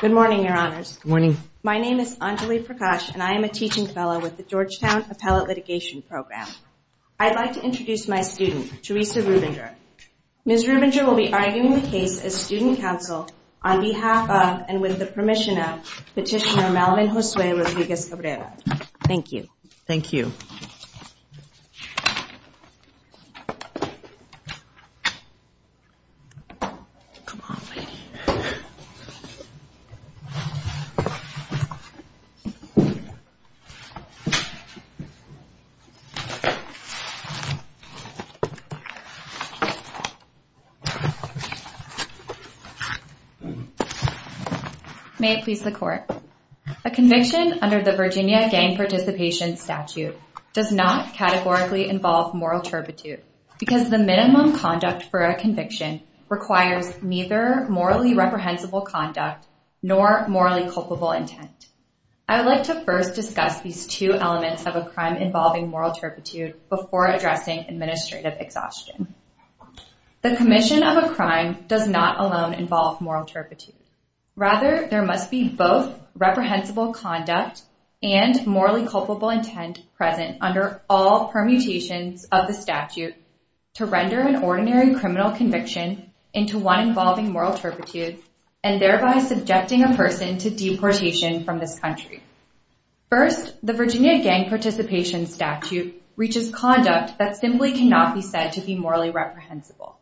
Good morning your honors. Good morning. My name is Anjali Prakash and I am a teaching fellow with the Georgetown Appellate Litigation Program. I'd like to introduce my student, Teresa Rubinger. Ms. Rubinger will be arguing the case as student counsel on behalf of and with the permission of Petitioner Malvin Josue Rodriguez Cabrera. Thank you. Thank you. May it please the court. A conviction under the Virginia gang participation statute. Does not categorically involve moral turpitude because the minimum conduct for a conviction requires neither morally reprehensible conduct nor morally culpable intent. I would like to first discuss these two elements of a crime involving moral turpitude before addressing administrative exhaustion. The commission of a crime does not alone involve moral turpitude. Rather there must be both reprehensible conduct and morally culpable intent present under all permutations of the statute to render an ordinary criminal conviction into one involving moral turpitude and thereby subjecting a person to deportation from this country. First the Virginia gang participation statute reaches conduct that simply cannot be said to be morally reprehensible.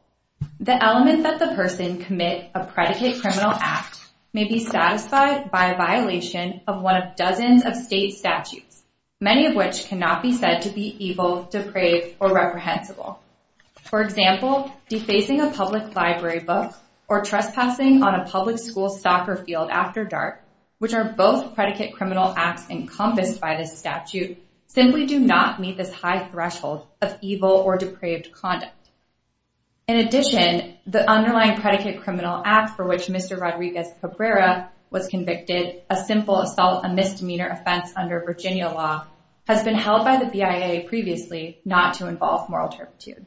The element that the person commit a predicate criminal act may be satisfied by a violation of one of dozens of state statutes, many of which cannot be said to be evil, depraved, or reprehensible. For example, defacing a public library book or trespassing on a public school soccer field after dark, which are both predicate criminal acts encompassed by this statute, simply do not meet this high threshold of evil or depraved conduct. In addition, the underlying predicate criminal act for which Mr. Rodriguez Cabrera was convicted, a simple assault, a misdemeanor offense under Virginia law, has been held by the BIA previously not to involve moral turpitude.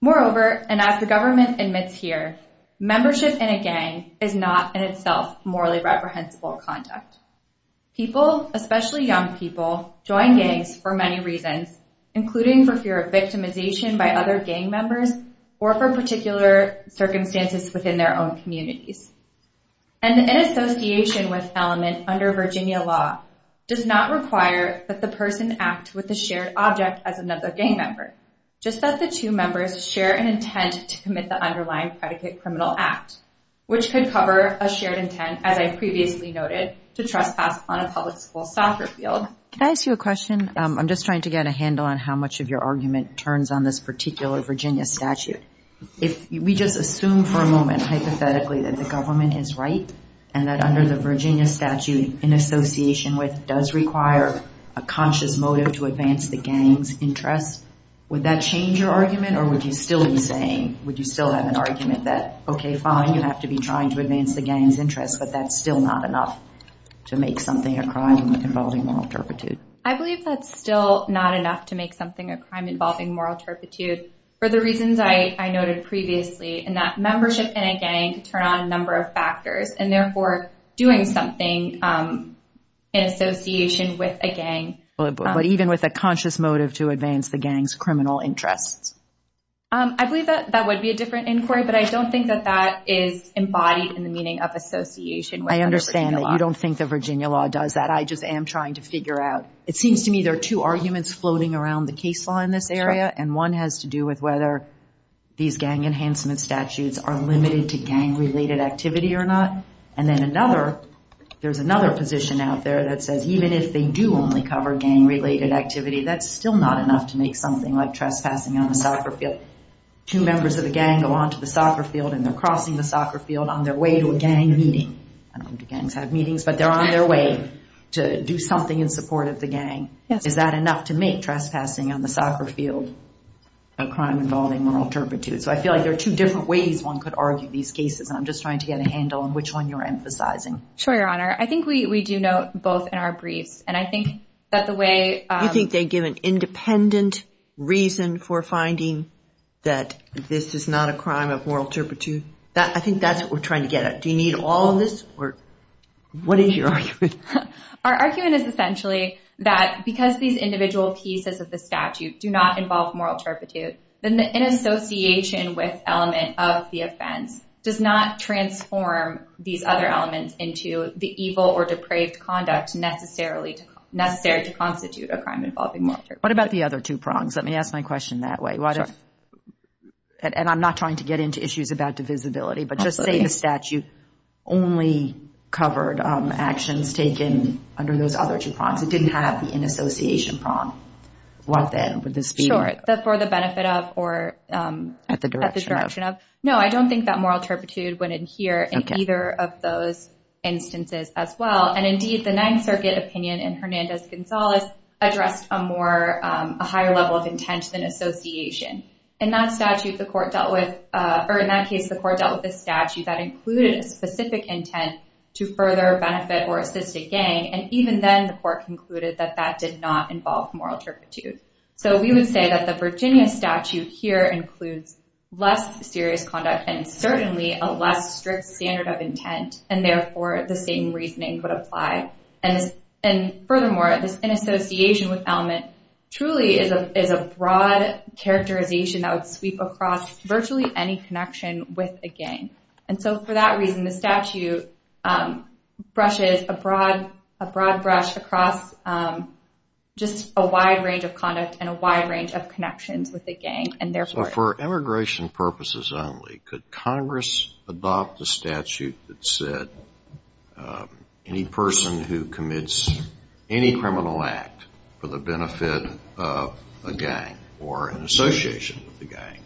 Moreover, and as the government admits here, membership in a gang is not in itself conduct. People, especially young people, join gangs for many reasons, including for fear of victimization by other gang members or for particular circumstances within their own communities. And in association with element under Virginia law does not require that the person act with the shared object as another gang member, just that the two members share an intent to commit the underlying predicate criminal act, which could cover a shared intent, as I've previously noted, to trespass on a public school soccer field. Can I ask you a question? I'm just trying to get a handle on how much of your argument turns on this particular Virginia statute. If we just assume for a moment, hypothetically, that the government is right and that under the Virginia statute in association with does require a conscious motive to advance the gang's interests, would that change your argument or would you still be saying, would you still have an argument that, okay, fine, you have to be trying to advance the gang's interests, but that's still not enough to make something a crime involving moral turpitude? I believe that's still not enough to make something a crime involving moral turpitude for the reasons I noted previously, and that membership in a gang could turn on a number of factors and therefore doing something in association with a gang. But even with a conscious motive to advance the gang's criminal interests. I believe that that would be a different inquiry, but I don't think that that is embodied in the meaning of association. I understand that you don't think the Virginia law does that. I just am trying to figure out. It seems to me there are two arguments floating around the case law in this area, and one has to do with whether these gang enhancement statutes are limited to gang-related activity or not. And then another, there's another position out there that says even if they do only cover gang-related activity, that's still not enough to make something like trespassing on a soccer field. Two members of a gang go onto the soccer field and they're crossing the soccer field on their way to a gang meeting. I don't know if gangs have meetings, but they're on their way to do something in support of the gang. Is that enough to make trespassing on the soccer field a crime involving moral turpitude? So I feel like there are two different ways one could argue these cases, and I'm just trying to get a handle on which one you're emphasizing. Sure, Your Honor. I think we do note both in our briefs, and I think that the way... You think they give an independent reason for finding that this is not a crime of moral turpitude? I think that's what we're trying to get at. Do you need all this, or what is your argument? Our argument is essentially that because these individual pieces of the statute do not involve moral turpitude, then the inassociation with element of the offense does not transform these other elements into the evil or depraved conduct necessary to constitute a crime involving moral turpitude. What about the other two prongs? Let me ask my question that way. And I'm not trying to get into issues about divisibility, but just saying the statute only covered actions taken under those two prongs. It didn't have the inassociation prong. What then? Would this be... Sure, for the benefit of or at the direction of... No, I don't think that moral turpitude went in here in either of those instances as well. And indeed, the Ninth Circuit opinion in Hernandez-Gonzalez addressed a higher level of intent than association. In that statute, the court dealt with... Or in that case, the court dealt with a statute that included a specific intent to further benefit or assist a gang. And even then, the court concluded that that did not involve moral turpitude. So we would say that the Virginia statute here includes less serious conduct and certainly a less strict standard of intent. And therefore, the same reasoning would apply. And furthermore, this inassociation with element truly is a broad characterization that would sweep across virtually any connection with a gang. And so for that reason, the statute brushes a broad brush across just a wide range of conduct and a wide range of connections with a gang. And therefore... So for immigration purposes only, could Congress adopt the statute that said any person who commits any criminal act for the benefit of a gang or in association with the gang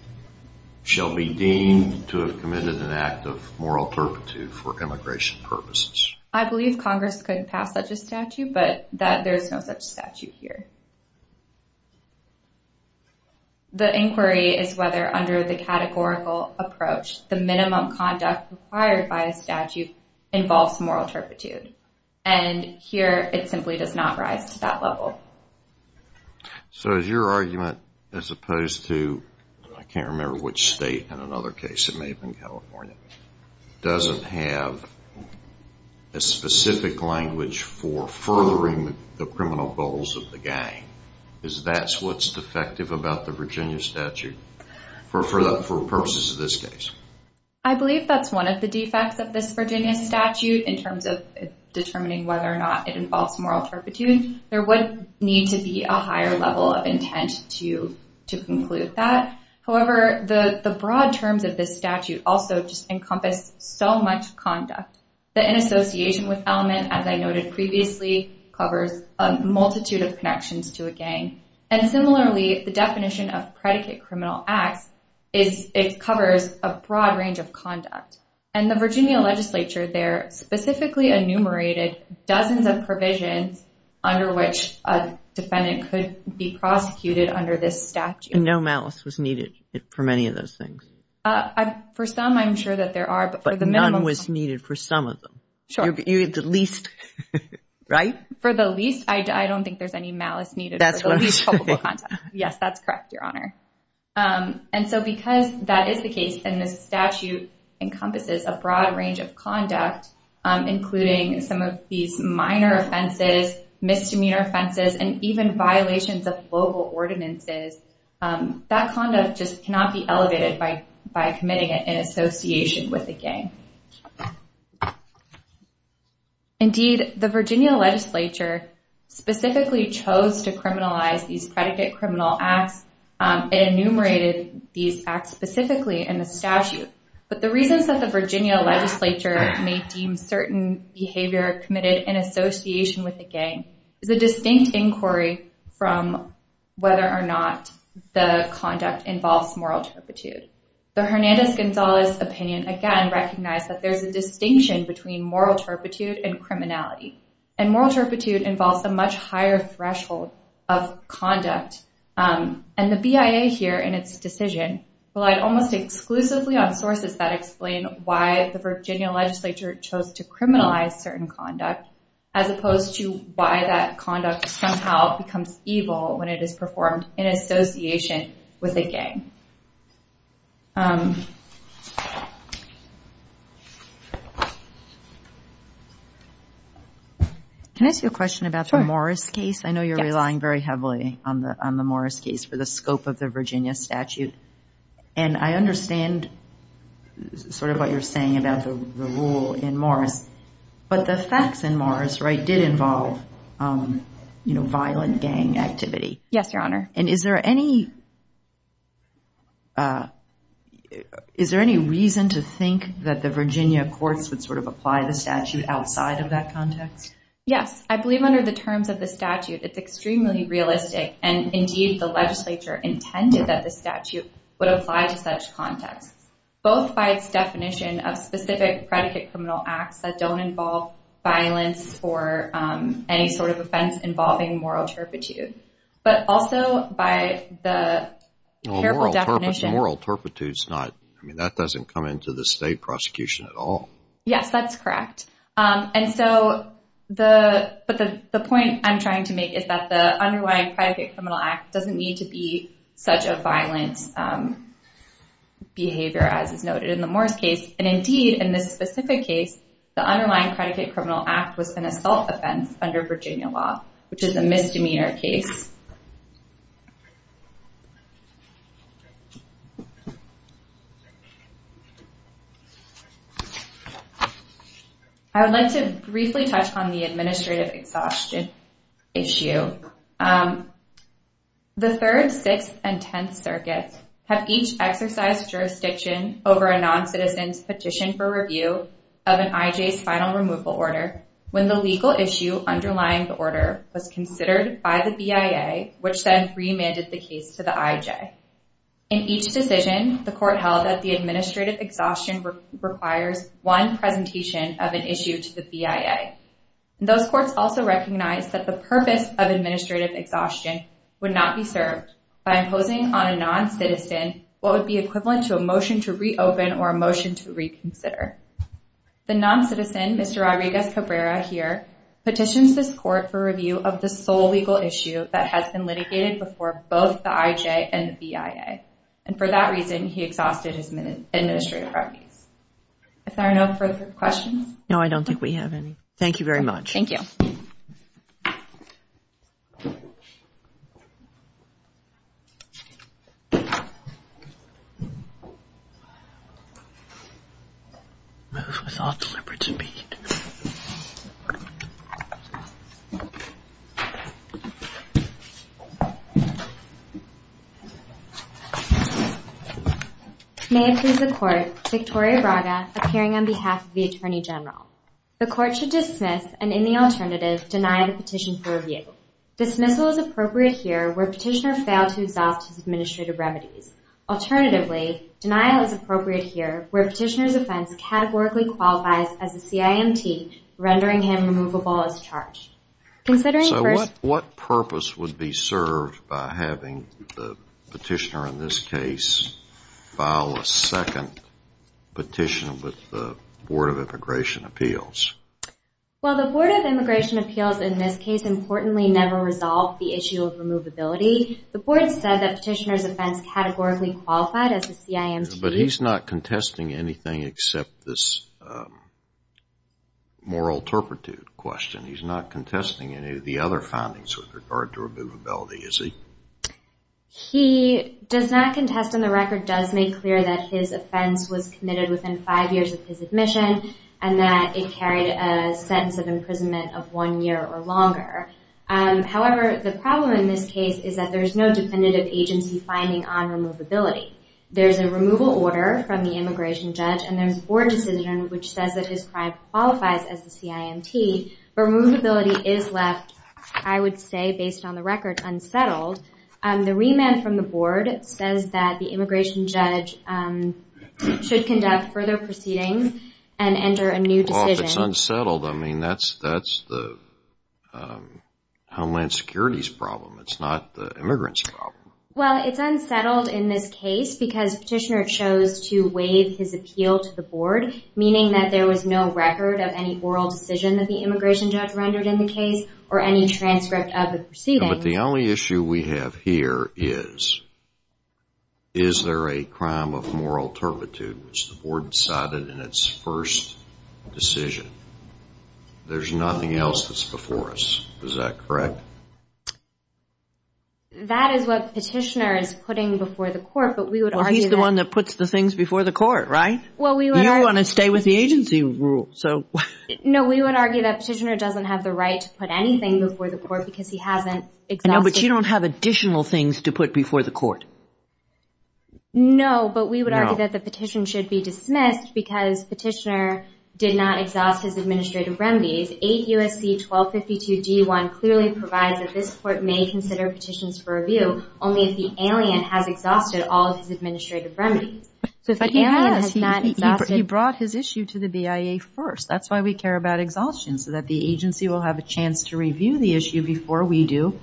shall be deemed to have committed an act of moral turpitude for immigration purposes? I believe Congress could pass such a statute, but there's no such statute here. The inquiry is whether under the categorical approach, the minimum conduct required by a statute involves moral turpitude. And here, it simply does not rise to that level. So is your argument as opposed to... I can't remember which state in another case, it may have been California, doesn't have a specific language for furthering the criminal goals of the gang. Is that what's defective about the Virginia statute for purposes of this case? I believe that's one of the defects of this Virginia statute in terms of determining whether or not it involves moral turpitude. There would need to be a higher level of intent to conclude that. However, the broad terms of this statute also just encompass so much conduct that in association with element, as I noted previously, covers a multitude of connections to a gang. And similarly, the definition of predicate criminal acts is it covers a broad range of conduct. And the Virginia legislature there specifically enumerated dozens of provisions under which a defendant could be prosecuted under this statute. And no malice was needed for many of those things? For some, I'm sure that there are, but for the minimum... But none was needed for some of them? Sure. You're the least, right? For the least, I don't think there's any malice needed. That's what I'm saying. Yes, that's correct, Your Honor. And so because that is the case and this statute encompasses a broad range of conduct, including some of these minor offenses, misdemeanor offenses, and even violations of local ordinances, that conduct just cannot be elevated by committing it in association with a gang. Indeed, the Virginia legislature specifically chose to criminalize these predicate criminal acts. It enumerated these acts specifically in the statute. But the reasons that the Virginia legislature may deem certain behavior committed in association with a gang is a distinct inquiry from whether or not the conduct involves moral turpitude. The Hernandez-Gonzalez opinion, again, recognized that there's a distinction between moral turpitude and criminality. And moral turpitude involves a much higher threshold of conduct. And the BIA here in its decision relied almost exclusively on sources that explain why the Virginia legislature chose to criminalize certain conduct, as opposed to why that conduct somehow becomes evil when it is performed in association with a gang. Can I ask you a question about the Morris case? I know you're relying very heavily on the Morris case for the scope of the Virginia statute. And I understand sort of what you're saying about the rule in Morris, but the facts in Morris did involve violent gang activity. Yes, Your Honor. And is there any reason to think that the Virginia courts would sort of apply the statute outside of that context? Yes. I believe under the terms of the statute, it's extremely realistic. And indeed, the legislature intended that the statute would apply to such contexts, both by its definition of specific predicate criminal acts that don't involve violence or any sort of offense involving moral turpitude. But also by the careful definition... Well, moral turpitude's not... I mean, that doesn't come into the state prosecution at all. Yes, that's correct. And so the... but the point I'm trying to make is that the underlying predicate criminal act doesn't need to be such a violent behavior, as is noted in the Morris case. And indeed, in this specific case, the underlying predicate criminal act was an assault offense under Virginia law, which is a misdemeanor case. I would like to briefly touch on the administrative exhaustion issue. The 3rd, 6th, and 10th circuits have each exercised jurisdiction over a non-citizen's review of an IJ's final removal order when the legal issue underlying the order was considered by the BIA, which then remanded the case to the IJ. In each decision, the court held that the administrative exhaustion requires one presentation of an issue to the BIA. Those courts also recognize that the purpose of administrative exhaustion would not be served by imposing on a non-citizen what would be equivalent to a motion to reopen or a motion to reconsider. The non-citizen, Mr. Rodriguez-Cabrera here, petitions this court for review of the sole legal issue that has been litigated before both the IJ and the BIA. And for that reason, he exhausted his administrative remedies. Is there no further questions? No, I don't think we have any. Thank you very much. Thank you. May it please the court, Victoria Braga, appearing on behalf of the Attorney General. The court should dismiss, and in the alternative, deny the petition for review. Dismissal is appropriate here where petitioner failed to exhaust his administrative remedies. Alternatively, denial is appropriate here where petitioner's offense categorically qualifies as a CIMT, rendering him removable as charged. So what purpose would be served by having the appeals? Well, the Board of Immigration Appeals in this case, importantly, never resolved the issue of removability. The board said that petitioner's offense categorically qualified as a CIMT. But he's not contesting anything except this moral turpitude question. He's not contesting any of the other findings with regard to removability, is he? He does not contest, and the record does make clear that his offense was committed within five years of his admission and that it carried a sentence of imprisonment of one year or longer. However, the problem in this case is that there's no definitive agency finding on removability. There's a removal order from the immigration judge, and there's a board decision which says that his crime qualifies as a CIMT. Removability is left, I would say, based on the record, unsettled. The remand from the board says that the immigration judge should conduct further proceedings and enter a new decision. Well, if it's unsettled, I mean, that's the Homeland Security's problem. It's not the immigrants' problem. Well, it's unsettled in this case because petitioner chose to waive his appeal to the board, meaning that there was no record of any oral decision that the immigration judge rendered in the case or any transcript of the proceedings. But the only issue we have here is, is there a crime of moral turpitude, which the board decided in its first decision? There's nothing else that's before us. Is that correct? That is what petitioner is putting before the court, but we would argue that... Well, he's the one that puts the things before the court, right? Well, we would... You don't want to stay with the agency rule, so... No, we would argue that petitioner doesn't have the right to put anything before the court because he hasn't exhausted... No, but we would argue that the petition should be dismissed because petitioner did not exhaust his administrative remedies. 8 U.S.C. 1252 G1 clearly provides that this court may consider petitions for review only if the alien has exhausted all of his administrative remedies. So if the alien has not exhausted... He brought his issue to the BIA first. That's why we care about exhaustion, so that the agency will have a chance to review the issue before we do.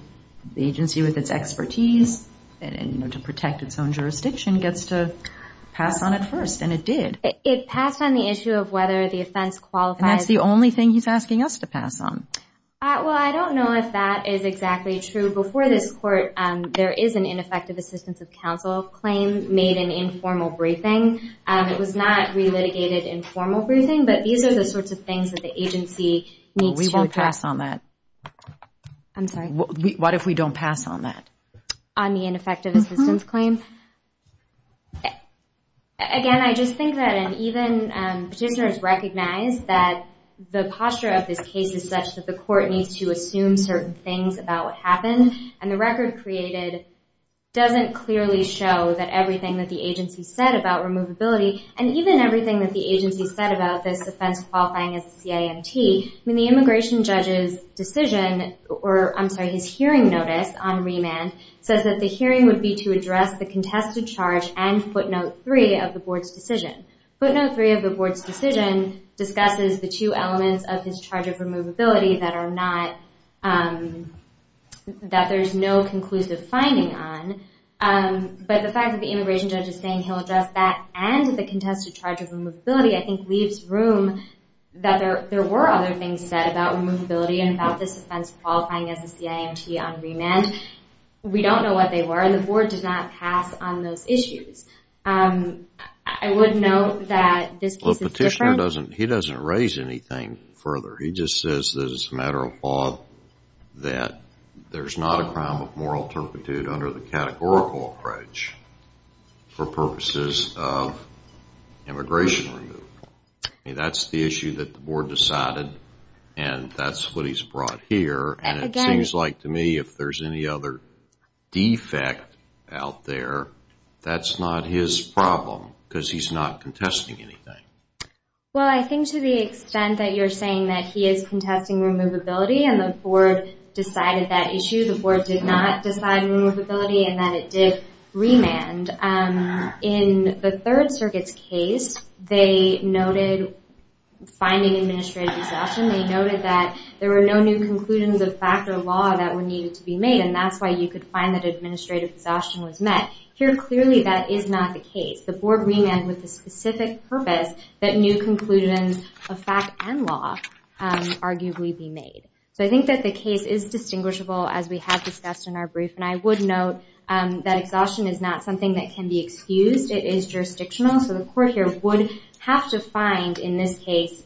The agency with its expertise to protect its own jurisdiction gets to pass on it first, and it did. It passed on the issue of whether the offense qualifies... And that's the only thing he's asking us to pass on. Well, I don't know if that is exactly true. Before this court, there is an ineffective assistance of counsel claim made in informal briefing. It was not re-litigated in formal briefing, but these are the sorts of things that the agency needs to... We won't pass on that. I'm sorry? What if we don't pass on that? On the ineffective assistance claim? Again, I just think that even petitioners recognize that the posture of this case is such that the court needs to assume certain things about what happened, and the record created doesn't clearly show that everything that the agency said about removability, and even everything that the agency said about this offense qualifying as a CIMT, I mean, the immigration judge's decision, or I'm sorry, his hearing notice on remand, says that the hearing would be to address the contested charge and footnote three of the board's decision. Footnote three of the board's decision discusses the two elements of his charge of removability that there's no conclusive finding on, but the fact that the immigration judge is saying he'll address that and the contested charge of removability, I think, leaves room that there were other things said about removability and about this offense qualifying as a CIMT on remand. We don't know what they were, and the board does not pass on those issues. I would note that this case is different. He doesn't raise anything further. He just says that it's a matter of law that there's not a crime of moral turpitude under the categorical approach for purposes of immigration removal. That's the issue that the board decided, and that's what he's brought here, and it seems like to me if there's any other defect out there, that's not his problem because he's not contesting anything. Well, I think to the extent that you're saying that he is contesting removability and the that it did remand, in the Third Circuit's case, they noted finding administrative exhaustion. They noted that there were no new conclusions of fact or law that were needed to be made, and that's why you could find that administrative exhaustion was met. Here, clearly, that is not the case. The board remanded with the specific purpose that new conclusions of fact and law arguably be made. So I think that the case is distinguishable as we have discussed in our brief, and I would note that exhaustion is not something that can be excused. It is jurisdictional. So the court here would have to find, in this case,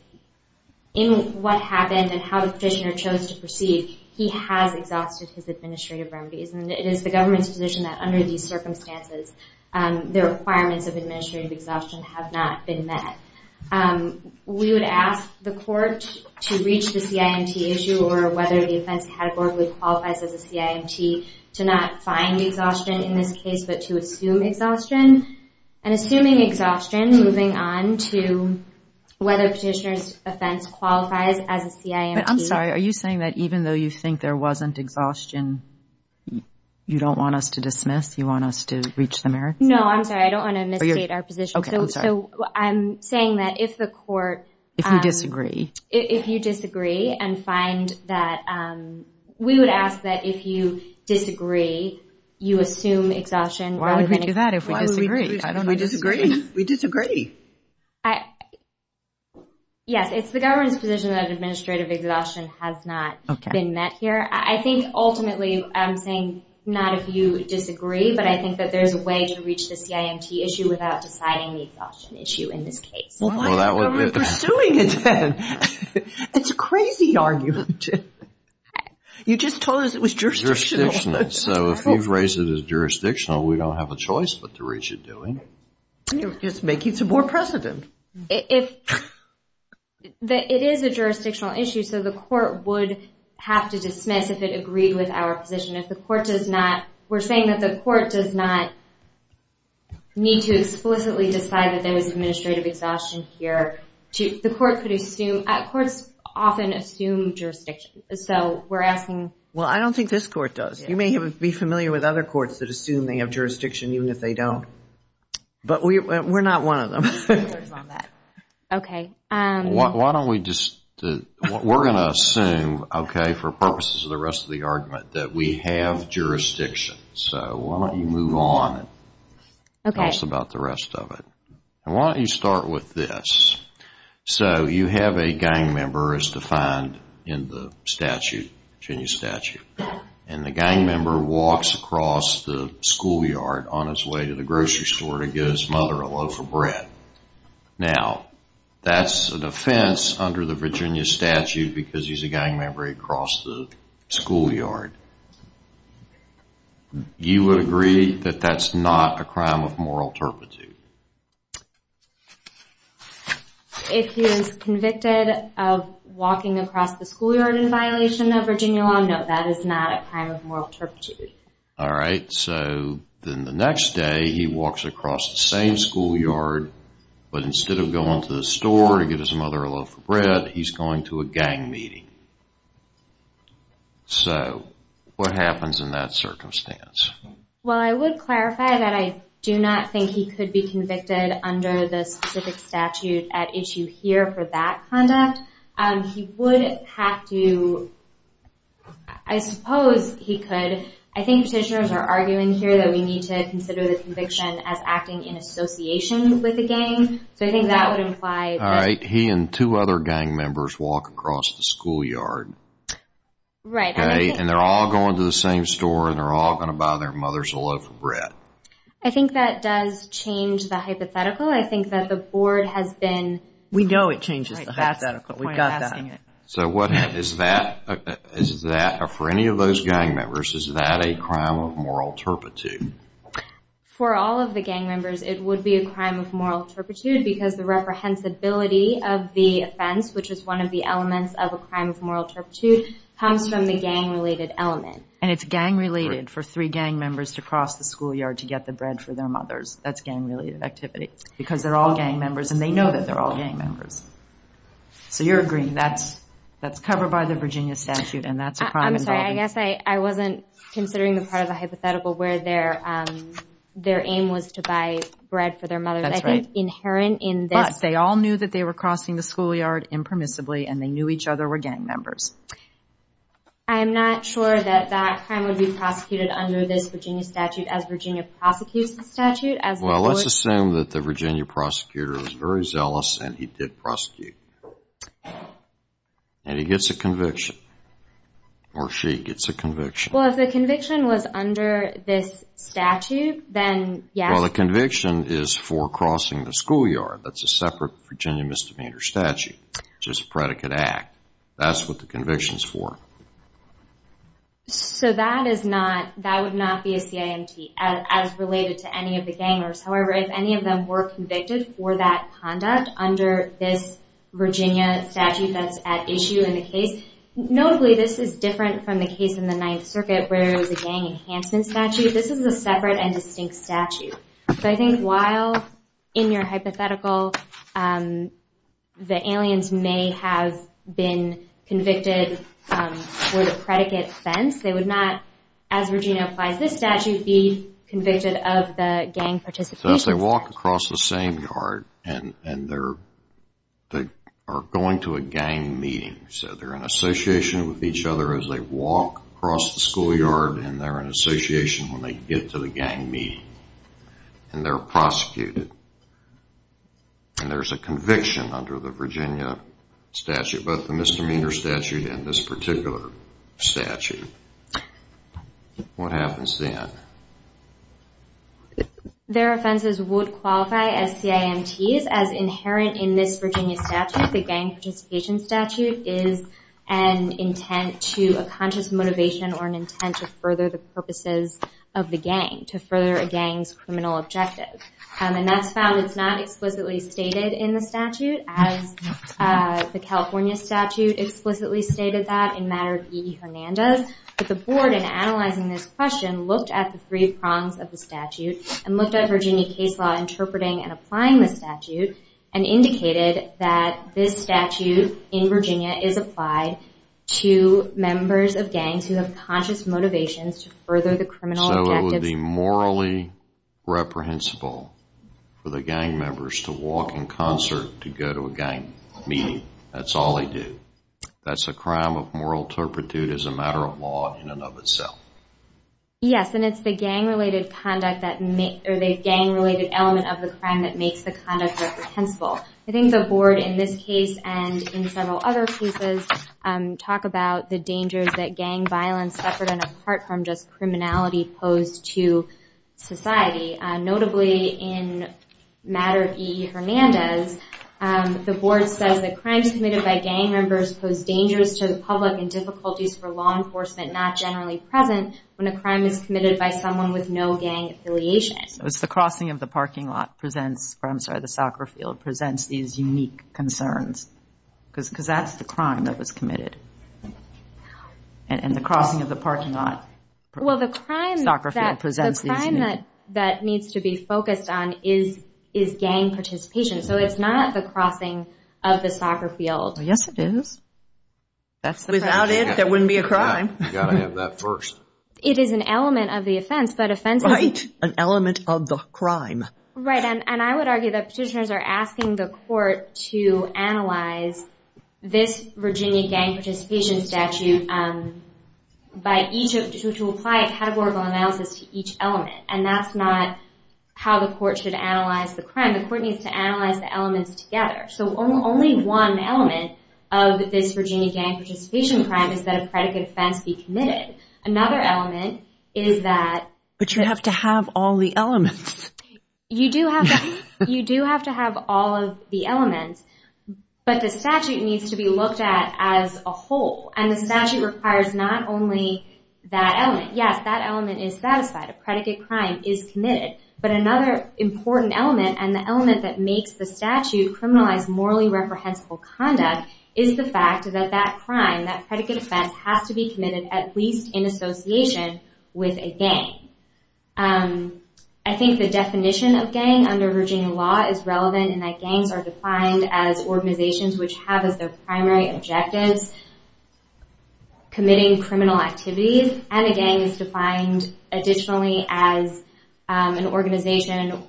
in what happened and how the petitioner chose to proceed, he has exhausted his administrative remedies. And it is the government's position that under these circumstances, the requirements of administrative exhaustion have not been met. We would ask the court to reach the CIMT issue or whether the offense categorically qualifies as a CIMT, to not find exhaustion in this case, but to assume exhaustion. And assuming exhaustion, moving on to whether petitioner's offense qualifies as a CIMT. But I'm sorry. Are you saying that even though you think there wasn't exhaustion, you don't want us to dismiss? You want us to reach the merits? No, I'm sorry. I don't want to misstate our position. OK, I'm sorry. So I'm saying that if the court— If you disagree. If you disagree and find that—we would ask that if you disagree, you assume exhaustion. Why would we do that if we disagree? I don't know. We disagree. We disagree. Yes, it's the government's position that administrative exhaustion has not been met here. I think ultimately, I'm saying not if you disagree, but I think that there's a way to reach the CIMT issue without deciding the exhaustion issue in this case. Why is the government pursuing it then? It's a crazy argument. You just told us it was jurisdictional. So if you've raised it as jurisdictional, we don't have a choice but to reach it, do we? You're just making some more precedent. It is a jurisdictional issue, so the court would have to dismiss if it agreed with our position. If the court does not—we're saying that the court does not need to explicitly decide that there was administrative exhaustion here, the court could assume—courts often assume jurisdiction. So we're asking— Well, I don't think this court does. You may be familiar with other courts that assume they have jurisdiction even if they don't. But we're not one of them. Okay. Why don't we just—we're going to assume, okay, for purposes of the rest of the argument, that we have jurisdiction. So why don't you move on and tell us about the rest of it. Why don't you start with this. So you have a gang member as defined in the statute, Virginia statute. And the gang member walks across the schoolyard on his way to the grocery store to give his mother a loaf of bread. Now, that's an offense under the Virginia statute because he's a gang member. He crossed the schoolyard. You would agree that that's not a crime of moral turpitude. If he is convicted of walking across the schoolyard in violation of Virginia law, no, that is not a crime of moral turpitude. All right. So then the next day, he walks across the same schoolyard, but instead of going to the store to give his mother a loaf of bread, he's going to a gang meeting. So what happens in that circumstance? Well, I would clarify that I do not think he could be convicted under the specific statute at issue here for that conduct. He would have to... I suppose he could. I think petitioners are arguing here that we need to consider the conviction as acting in association with the gang. So I think that would imply... All right. He and two other gang members walk across the schoolyard. Right. And they're all going to the same store and they're all going to buy their mothers a loaf of bread. I think that does change the hypothetical. I think that the board has been... We know it changes the hypothetical. We've got that. So is that, for any of those gang members, is that a crime of moral turpitude? For all of the gang members, it would be a crime of moral turpitude because the reprehensibility of the offense, which is one of the elements of a crime of moral turpitude, comes from the gang-related element. And it's gang-related for three gang members to cross the schoolyard to get the bread for their mothers. That's gang-related activity because they're all gang members and they know that they're all gang members. So you're agreeing that's covered by the Virginia statute and that's a crime involving... I'm sorry. I guess I wasn't considering the part of the hypothetical where their aim was to buy bread for their mothers. That's right. I think inherent in this... But they all knew that they were crossing the schoolyard impermissibly and they knew each other were gang members. I'm not sure that that crime would be prosecuted under this Virginia statute as Virginia prosecutes the statute as... Well, let's assume that the Virginia prosecutor is very zealous and he did prosecute. And he gets a conviction. Or she gets a conviction. Well, if the conviction was under this statute, then yes... Well, the conviction is for crossing the schoolyard. That's a separate Virginia misdemeanor statute, which is a predicate act. That's what the conviction is for. So that is not... That would not be a CIMT as related to any of the gang members. However, if any of them were convicted for that conduct under this Virginia statute that's at issue in the case... Notably, this is different from the case in the Ninth Circuit where it was a gang enhancement statute. This is a separate and distinct statute. So I think while in your hypothetical the aliens may have been convicted for the predicate offense, they would not, as Virginia applies this statute, be convicted of the gang participation. As they walk across the same yard and they are going to a gang meeting. So they're in association with each other as they walk across the schoolyard and they're in association when they get to the gang meeting. And they're prosecuted. And there's a conviction under the Virginia statute, both the misdemeanor statute and this particular statute. What happens then? Their offenses would qualify as CIMTs as inherent in this Virginia statute. The gang participation statute is an intent to a conscious motivation or an intent to purposes of the gang to further a gang's criminal objective. And that's found it's not explicitly stated in the statute as the California statute explicitly stated that in matter of E.E. Hernandez. But the board in analyzing this question looked at the three prongs of the statute and looked at Virginia case law interpreting and applying the statute and indicated that this statute in Virginia is applied to members of gangs who have conscious motivations to further the criminal objective. So it would be morally reprehensible for the gang members to walk in concert to go to a gang meeting. That's all they do. That's a crime of moral turpitude as a matter of law in and of itself. Yes. And it's the gang related conduct that or the gang related element of the crime that makes the conduct reprehensible. I think the board in this case and in several other cases talk about the dangers that gang violence separate and apart from just criminality pose to society. Notably in matter of E.E. Hernandez, the board says that crimes committed by gang members pose dangers to the public and difficulties for law enforcement not generally present when a crime is committed by someone with no gang affiliation. The crossing of the parking lot presents, or I'm sorry, the soccer field presents these unique concerns because that's the crime that was committed. And the crossing of the parking lot. Well, the crime that needs to be focused on is gang participation. So it's not the crossing of the soccer field. Yes, it is. Without it, there wouldn't be a crime. It is an element of the offense. Right. An element of the crime. Right. And I would argue that petitioners are asking the court to analyze this Virginia gang participation statute to apply a categorical analysis to each element. And that's not how the court should analyze the crime. The court needs to analyze the elements together. So only one element of this Virginia gang participation crime is that a predicate offense be committed. Another element is that. But you have to have all the elements. You do have to. You do have to have all of the elements. But the statute needs to be looked at as a whole. And the statute requires not only that element. Yes, that element is satisfied. A predicate crime is committed. But another important element and the element that makes the statute criminalize morally reprehensible conduct is the fact that that crime, that predicate offense has to be committed at least in association with a gang. I think the definition of gang under Virginia law is relevant in that gangs are defined as organizations which have as their primary objectives committing criminal activities. And a gang is defined additionally as an organization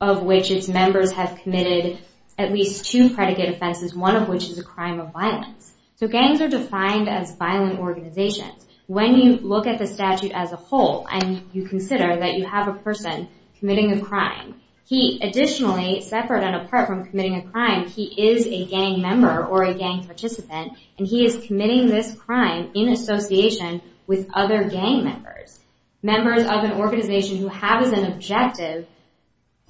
of which its members have committed at least two predicate offenses, one of which is a crime of violence. So gangs are defined as violent organizations. When you look at the statute as a whole and you consider that you have a person committing a crime, he additionally, separate and apart from committing a crime, he is a gang member or a gang participant. And he is committing this crime in association with other gang members, members of an organization who have as an objective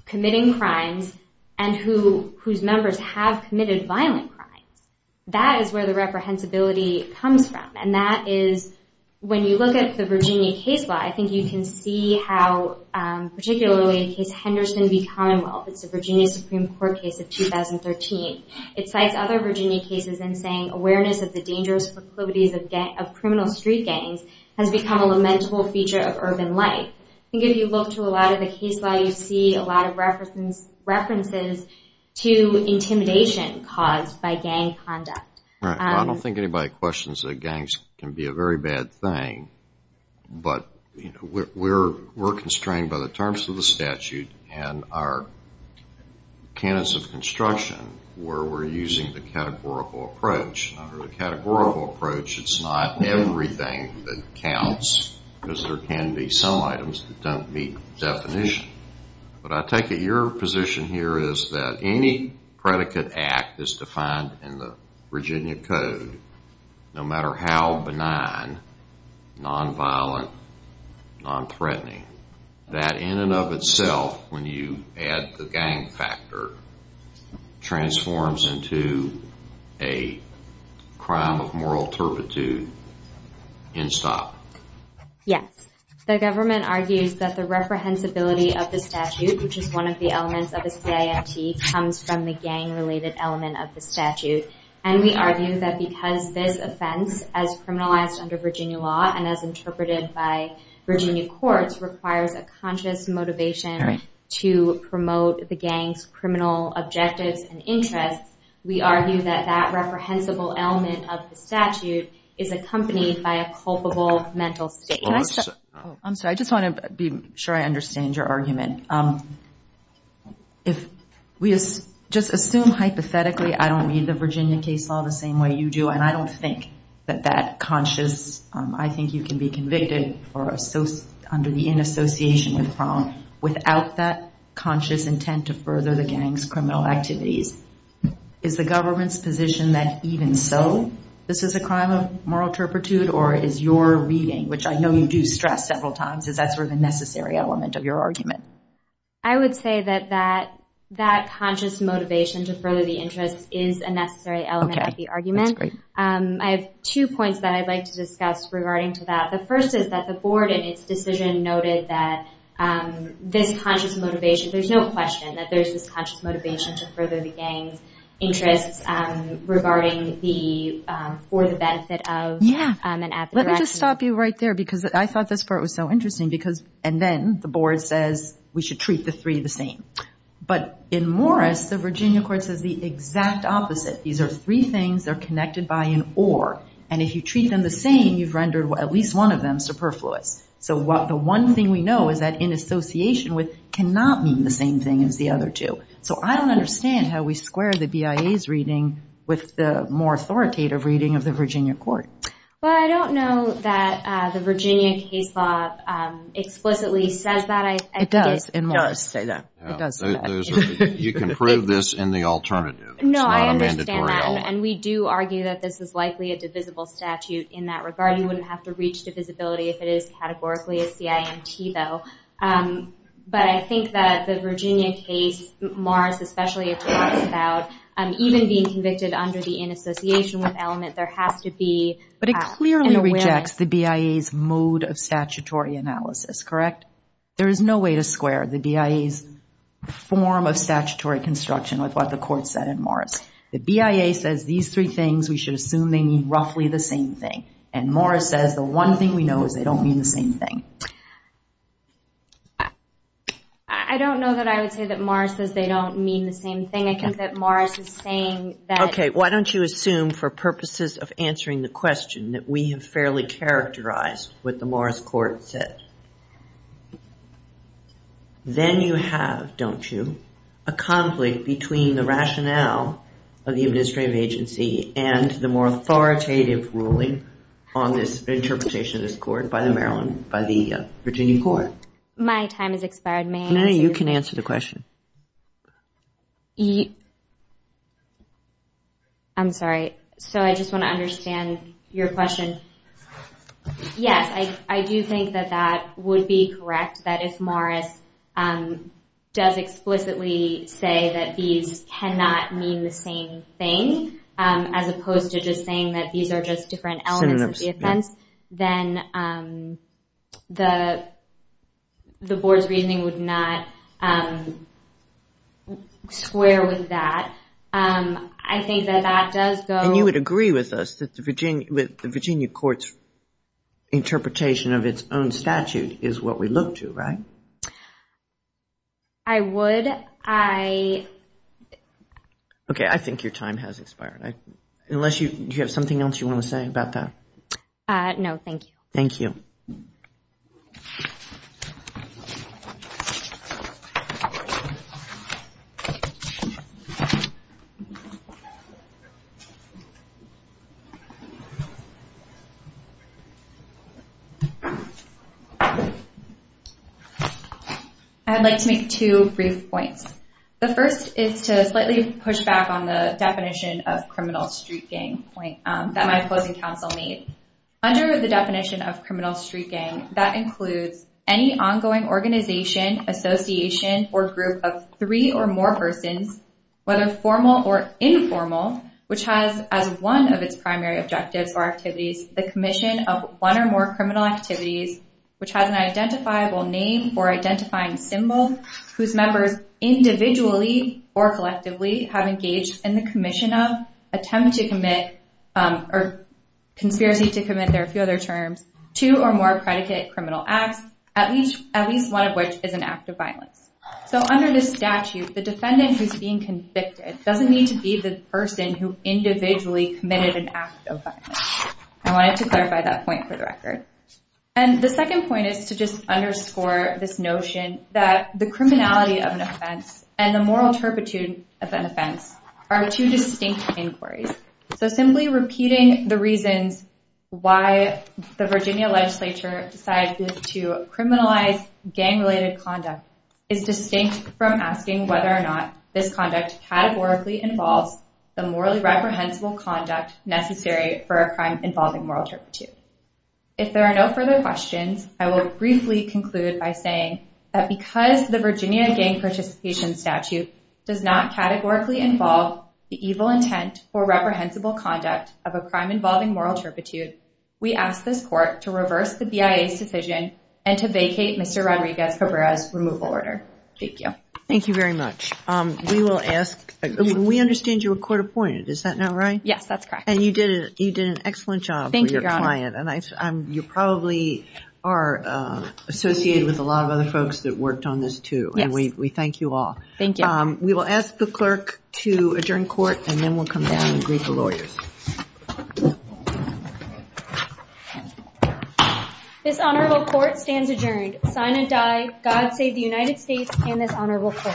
committing crimes and whose members have committed violent crimes. That is where the reprehensibility comes from. And that is when you look at the Virginia case law, I think you can see how particularly in case Henderson v. Commonwealth, it's a Virginia Supreme Court case of 2013. It cites other Virginia cases in saying awareness of the dangerous proclivities of criminal street gangs has become a lamentable feature of urban life. I think if you look to a lot of the case law, you see a lot of references to intimidation caused by gang conduct. Right. I don't think anybody questions that gangs can be a very bad thing, but we're constrained by the terms of the statute and our canons of construction where we're using the categorical approach. Under the categorical approach, it's not everything that counts because there can be some items that don't meet definition. But I take it your position here is that any predicate act is defined in the Virginia Code, no matter how benign, non-violent, non-threatening, that in and of itself, when you add the gang factor, transforms into a crime of moral turpitude, end stop. Yes. The government argues that the reprehensibility of the statute, which is one of the elements of a CIMT, comes from the gang-related element of the statute. And we argue that because this offense, as criminalized under Virginia law and as interpreted by Virginia courts, requires a conscious motivation to promote the gang's criminal objectives and interests. We argue that that reprehensible element of the statute is accompanied by a culpable mental state. I'm sorry. I just want to be sure I understand your argument. If we just assume hypothetically, I don't read the Virginia case law the same way you do, and I don't think that that conscious, I think you can be convicted under the in association with the crime without that conscious intent to further the gang's criminal activities. Is the government's position that even so, this is a crime of moral turpitude or is your reading, which I know you do stress several times, is that sort of a necessary element of your argument? I would say that that conscious motivation to further the interest is a necessary element of the argument. That's great. I have two points that I'd like to discuss regarding to that. The first is that the board in its decision noted that this conscious motivation, there's no question that there's this conscious motivation to further the gang's interests regarding the, for the benefit of, and at the direction of. I'll just stop you right there because I thought this part was so interesting because, and then the board says we should treat the three the same. But in Morris, the Virginia court says the exact opposite. These are three things that are connected by an or, and if you treat them the same, you've rendered at least one of them superfluous. So the one thing we know is that in association with cannot mean the same thing as the other two. So I don't understand how we square the BIA's reading with the more authoritative reading of the Virginia court. Well, I don't know that the Virginia case law explicitly says that. It does in Morris. You can prove this in the alternative. No, I understand that. And we do argue that this is likely a divisible statute in that regard. You wouldn't have to reach divisibility if it is categorically a CIMT though. But I think that the Virginia case, Morris especially, it talks about even being convicted under the in association with element, there has to be an awareness. But it clearly rejects the BIA's mode of statutory analysis, correct? There is no way to square the BIA's form of statutory construction with what the court said in Morris. The BIA says these three things, we should assume they mean roughly the same thing. And Morris says the one thing we know is they don't mean the same thing. I don't know that I would say that Morris says they don't mean the same thing. I think that Morris is saying that. OK, why don't you assume for purposes of answering the question that we have fairly characterized what the Morris court said. Then you have, don't you, a conflict between the rationale of the administrative agency and the more authoritative ruling on this interpretation of this court by the Maryland, by the Virginia court. My time has expired. May I answer? You can answer the question. I'm sorry. So I just want to understand your question. Yes, I do think that that would be correct, that if Morris does explicitly say that these cannot mean the same thing, as opposed to just saying that these are just different elements of the offense, then the board's reasoning would not square with that. I think that that does go. And you would agree with us that the Virginia court's interpretation of its own statute is what we look to, right? I would. OK, I think your time has expired. Unless you have something else you want to say about that. No, thank you. Thank you. I'd like to make two brief points. The first is to slightly push back on the definition of criminal street gang that my opposing counsel made. Under the definition of criminal street gang, that includes any ongoing organization, association, or group of three or more persons, whether formal or informal, which has as one of its primary objectives or activities the commission of one or more criminal activities, which has an identifiable name or identifying symbol, whose members individually or collectively have engaged in the commission of, attempt to commit, or conspiracy to commit, there are a few other terms, two or more predicate criminal acts, at least one of which is an act of violence. So under this statute, the defendant who's being convicted doesn't need to be the person who individually committed an act of violence. I wanted to clarify that point for the record. And the second point is to just underscore this notion that the criminality of an offense and the moral turpitude of an offense are two distinct inquiries. So simply repeating the reasons why the Virginia legislature decided to criminalize gang-related conduct is distinct from asking whether or not this conduct categorically involves the morally reprehensible conduct necessary for a crime involving moral turpitude. If there are no further questions, I will briefly conclude by saying that because the Virginia gang participation statute does not categorically involve the evil intent or reprehensible conduct of a crime involving moral turpitude, we ask this court to reverse the BIA's decision and to vacate Mr. Rodriguez-Cabrera's removal order. Thank you. Thank you very much. We will ask, we understand you were court appointed, is that not right? Yes, that's correct. And you did an excellent job. And you probably are associated with a lot of other folks that worked on this too. Yes. And we thank you all. Thank you. We will ask the clerk to adjourn court and then we'll come down and greet the lawyers. This honorable court stands adjourned. Sign and die. God save the United States and this honorable court.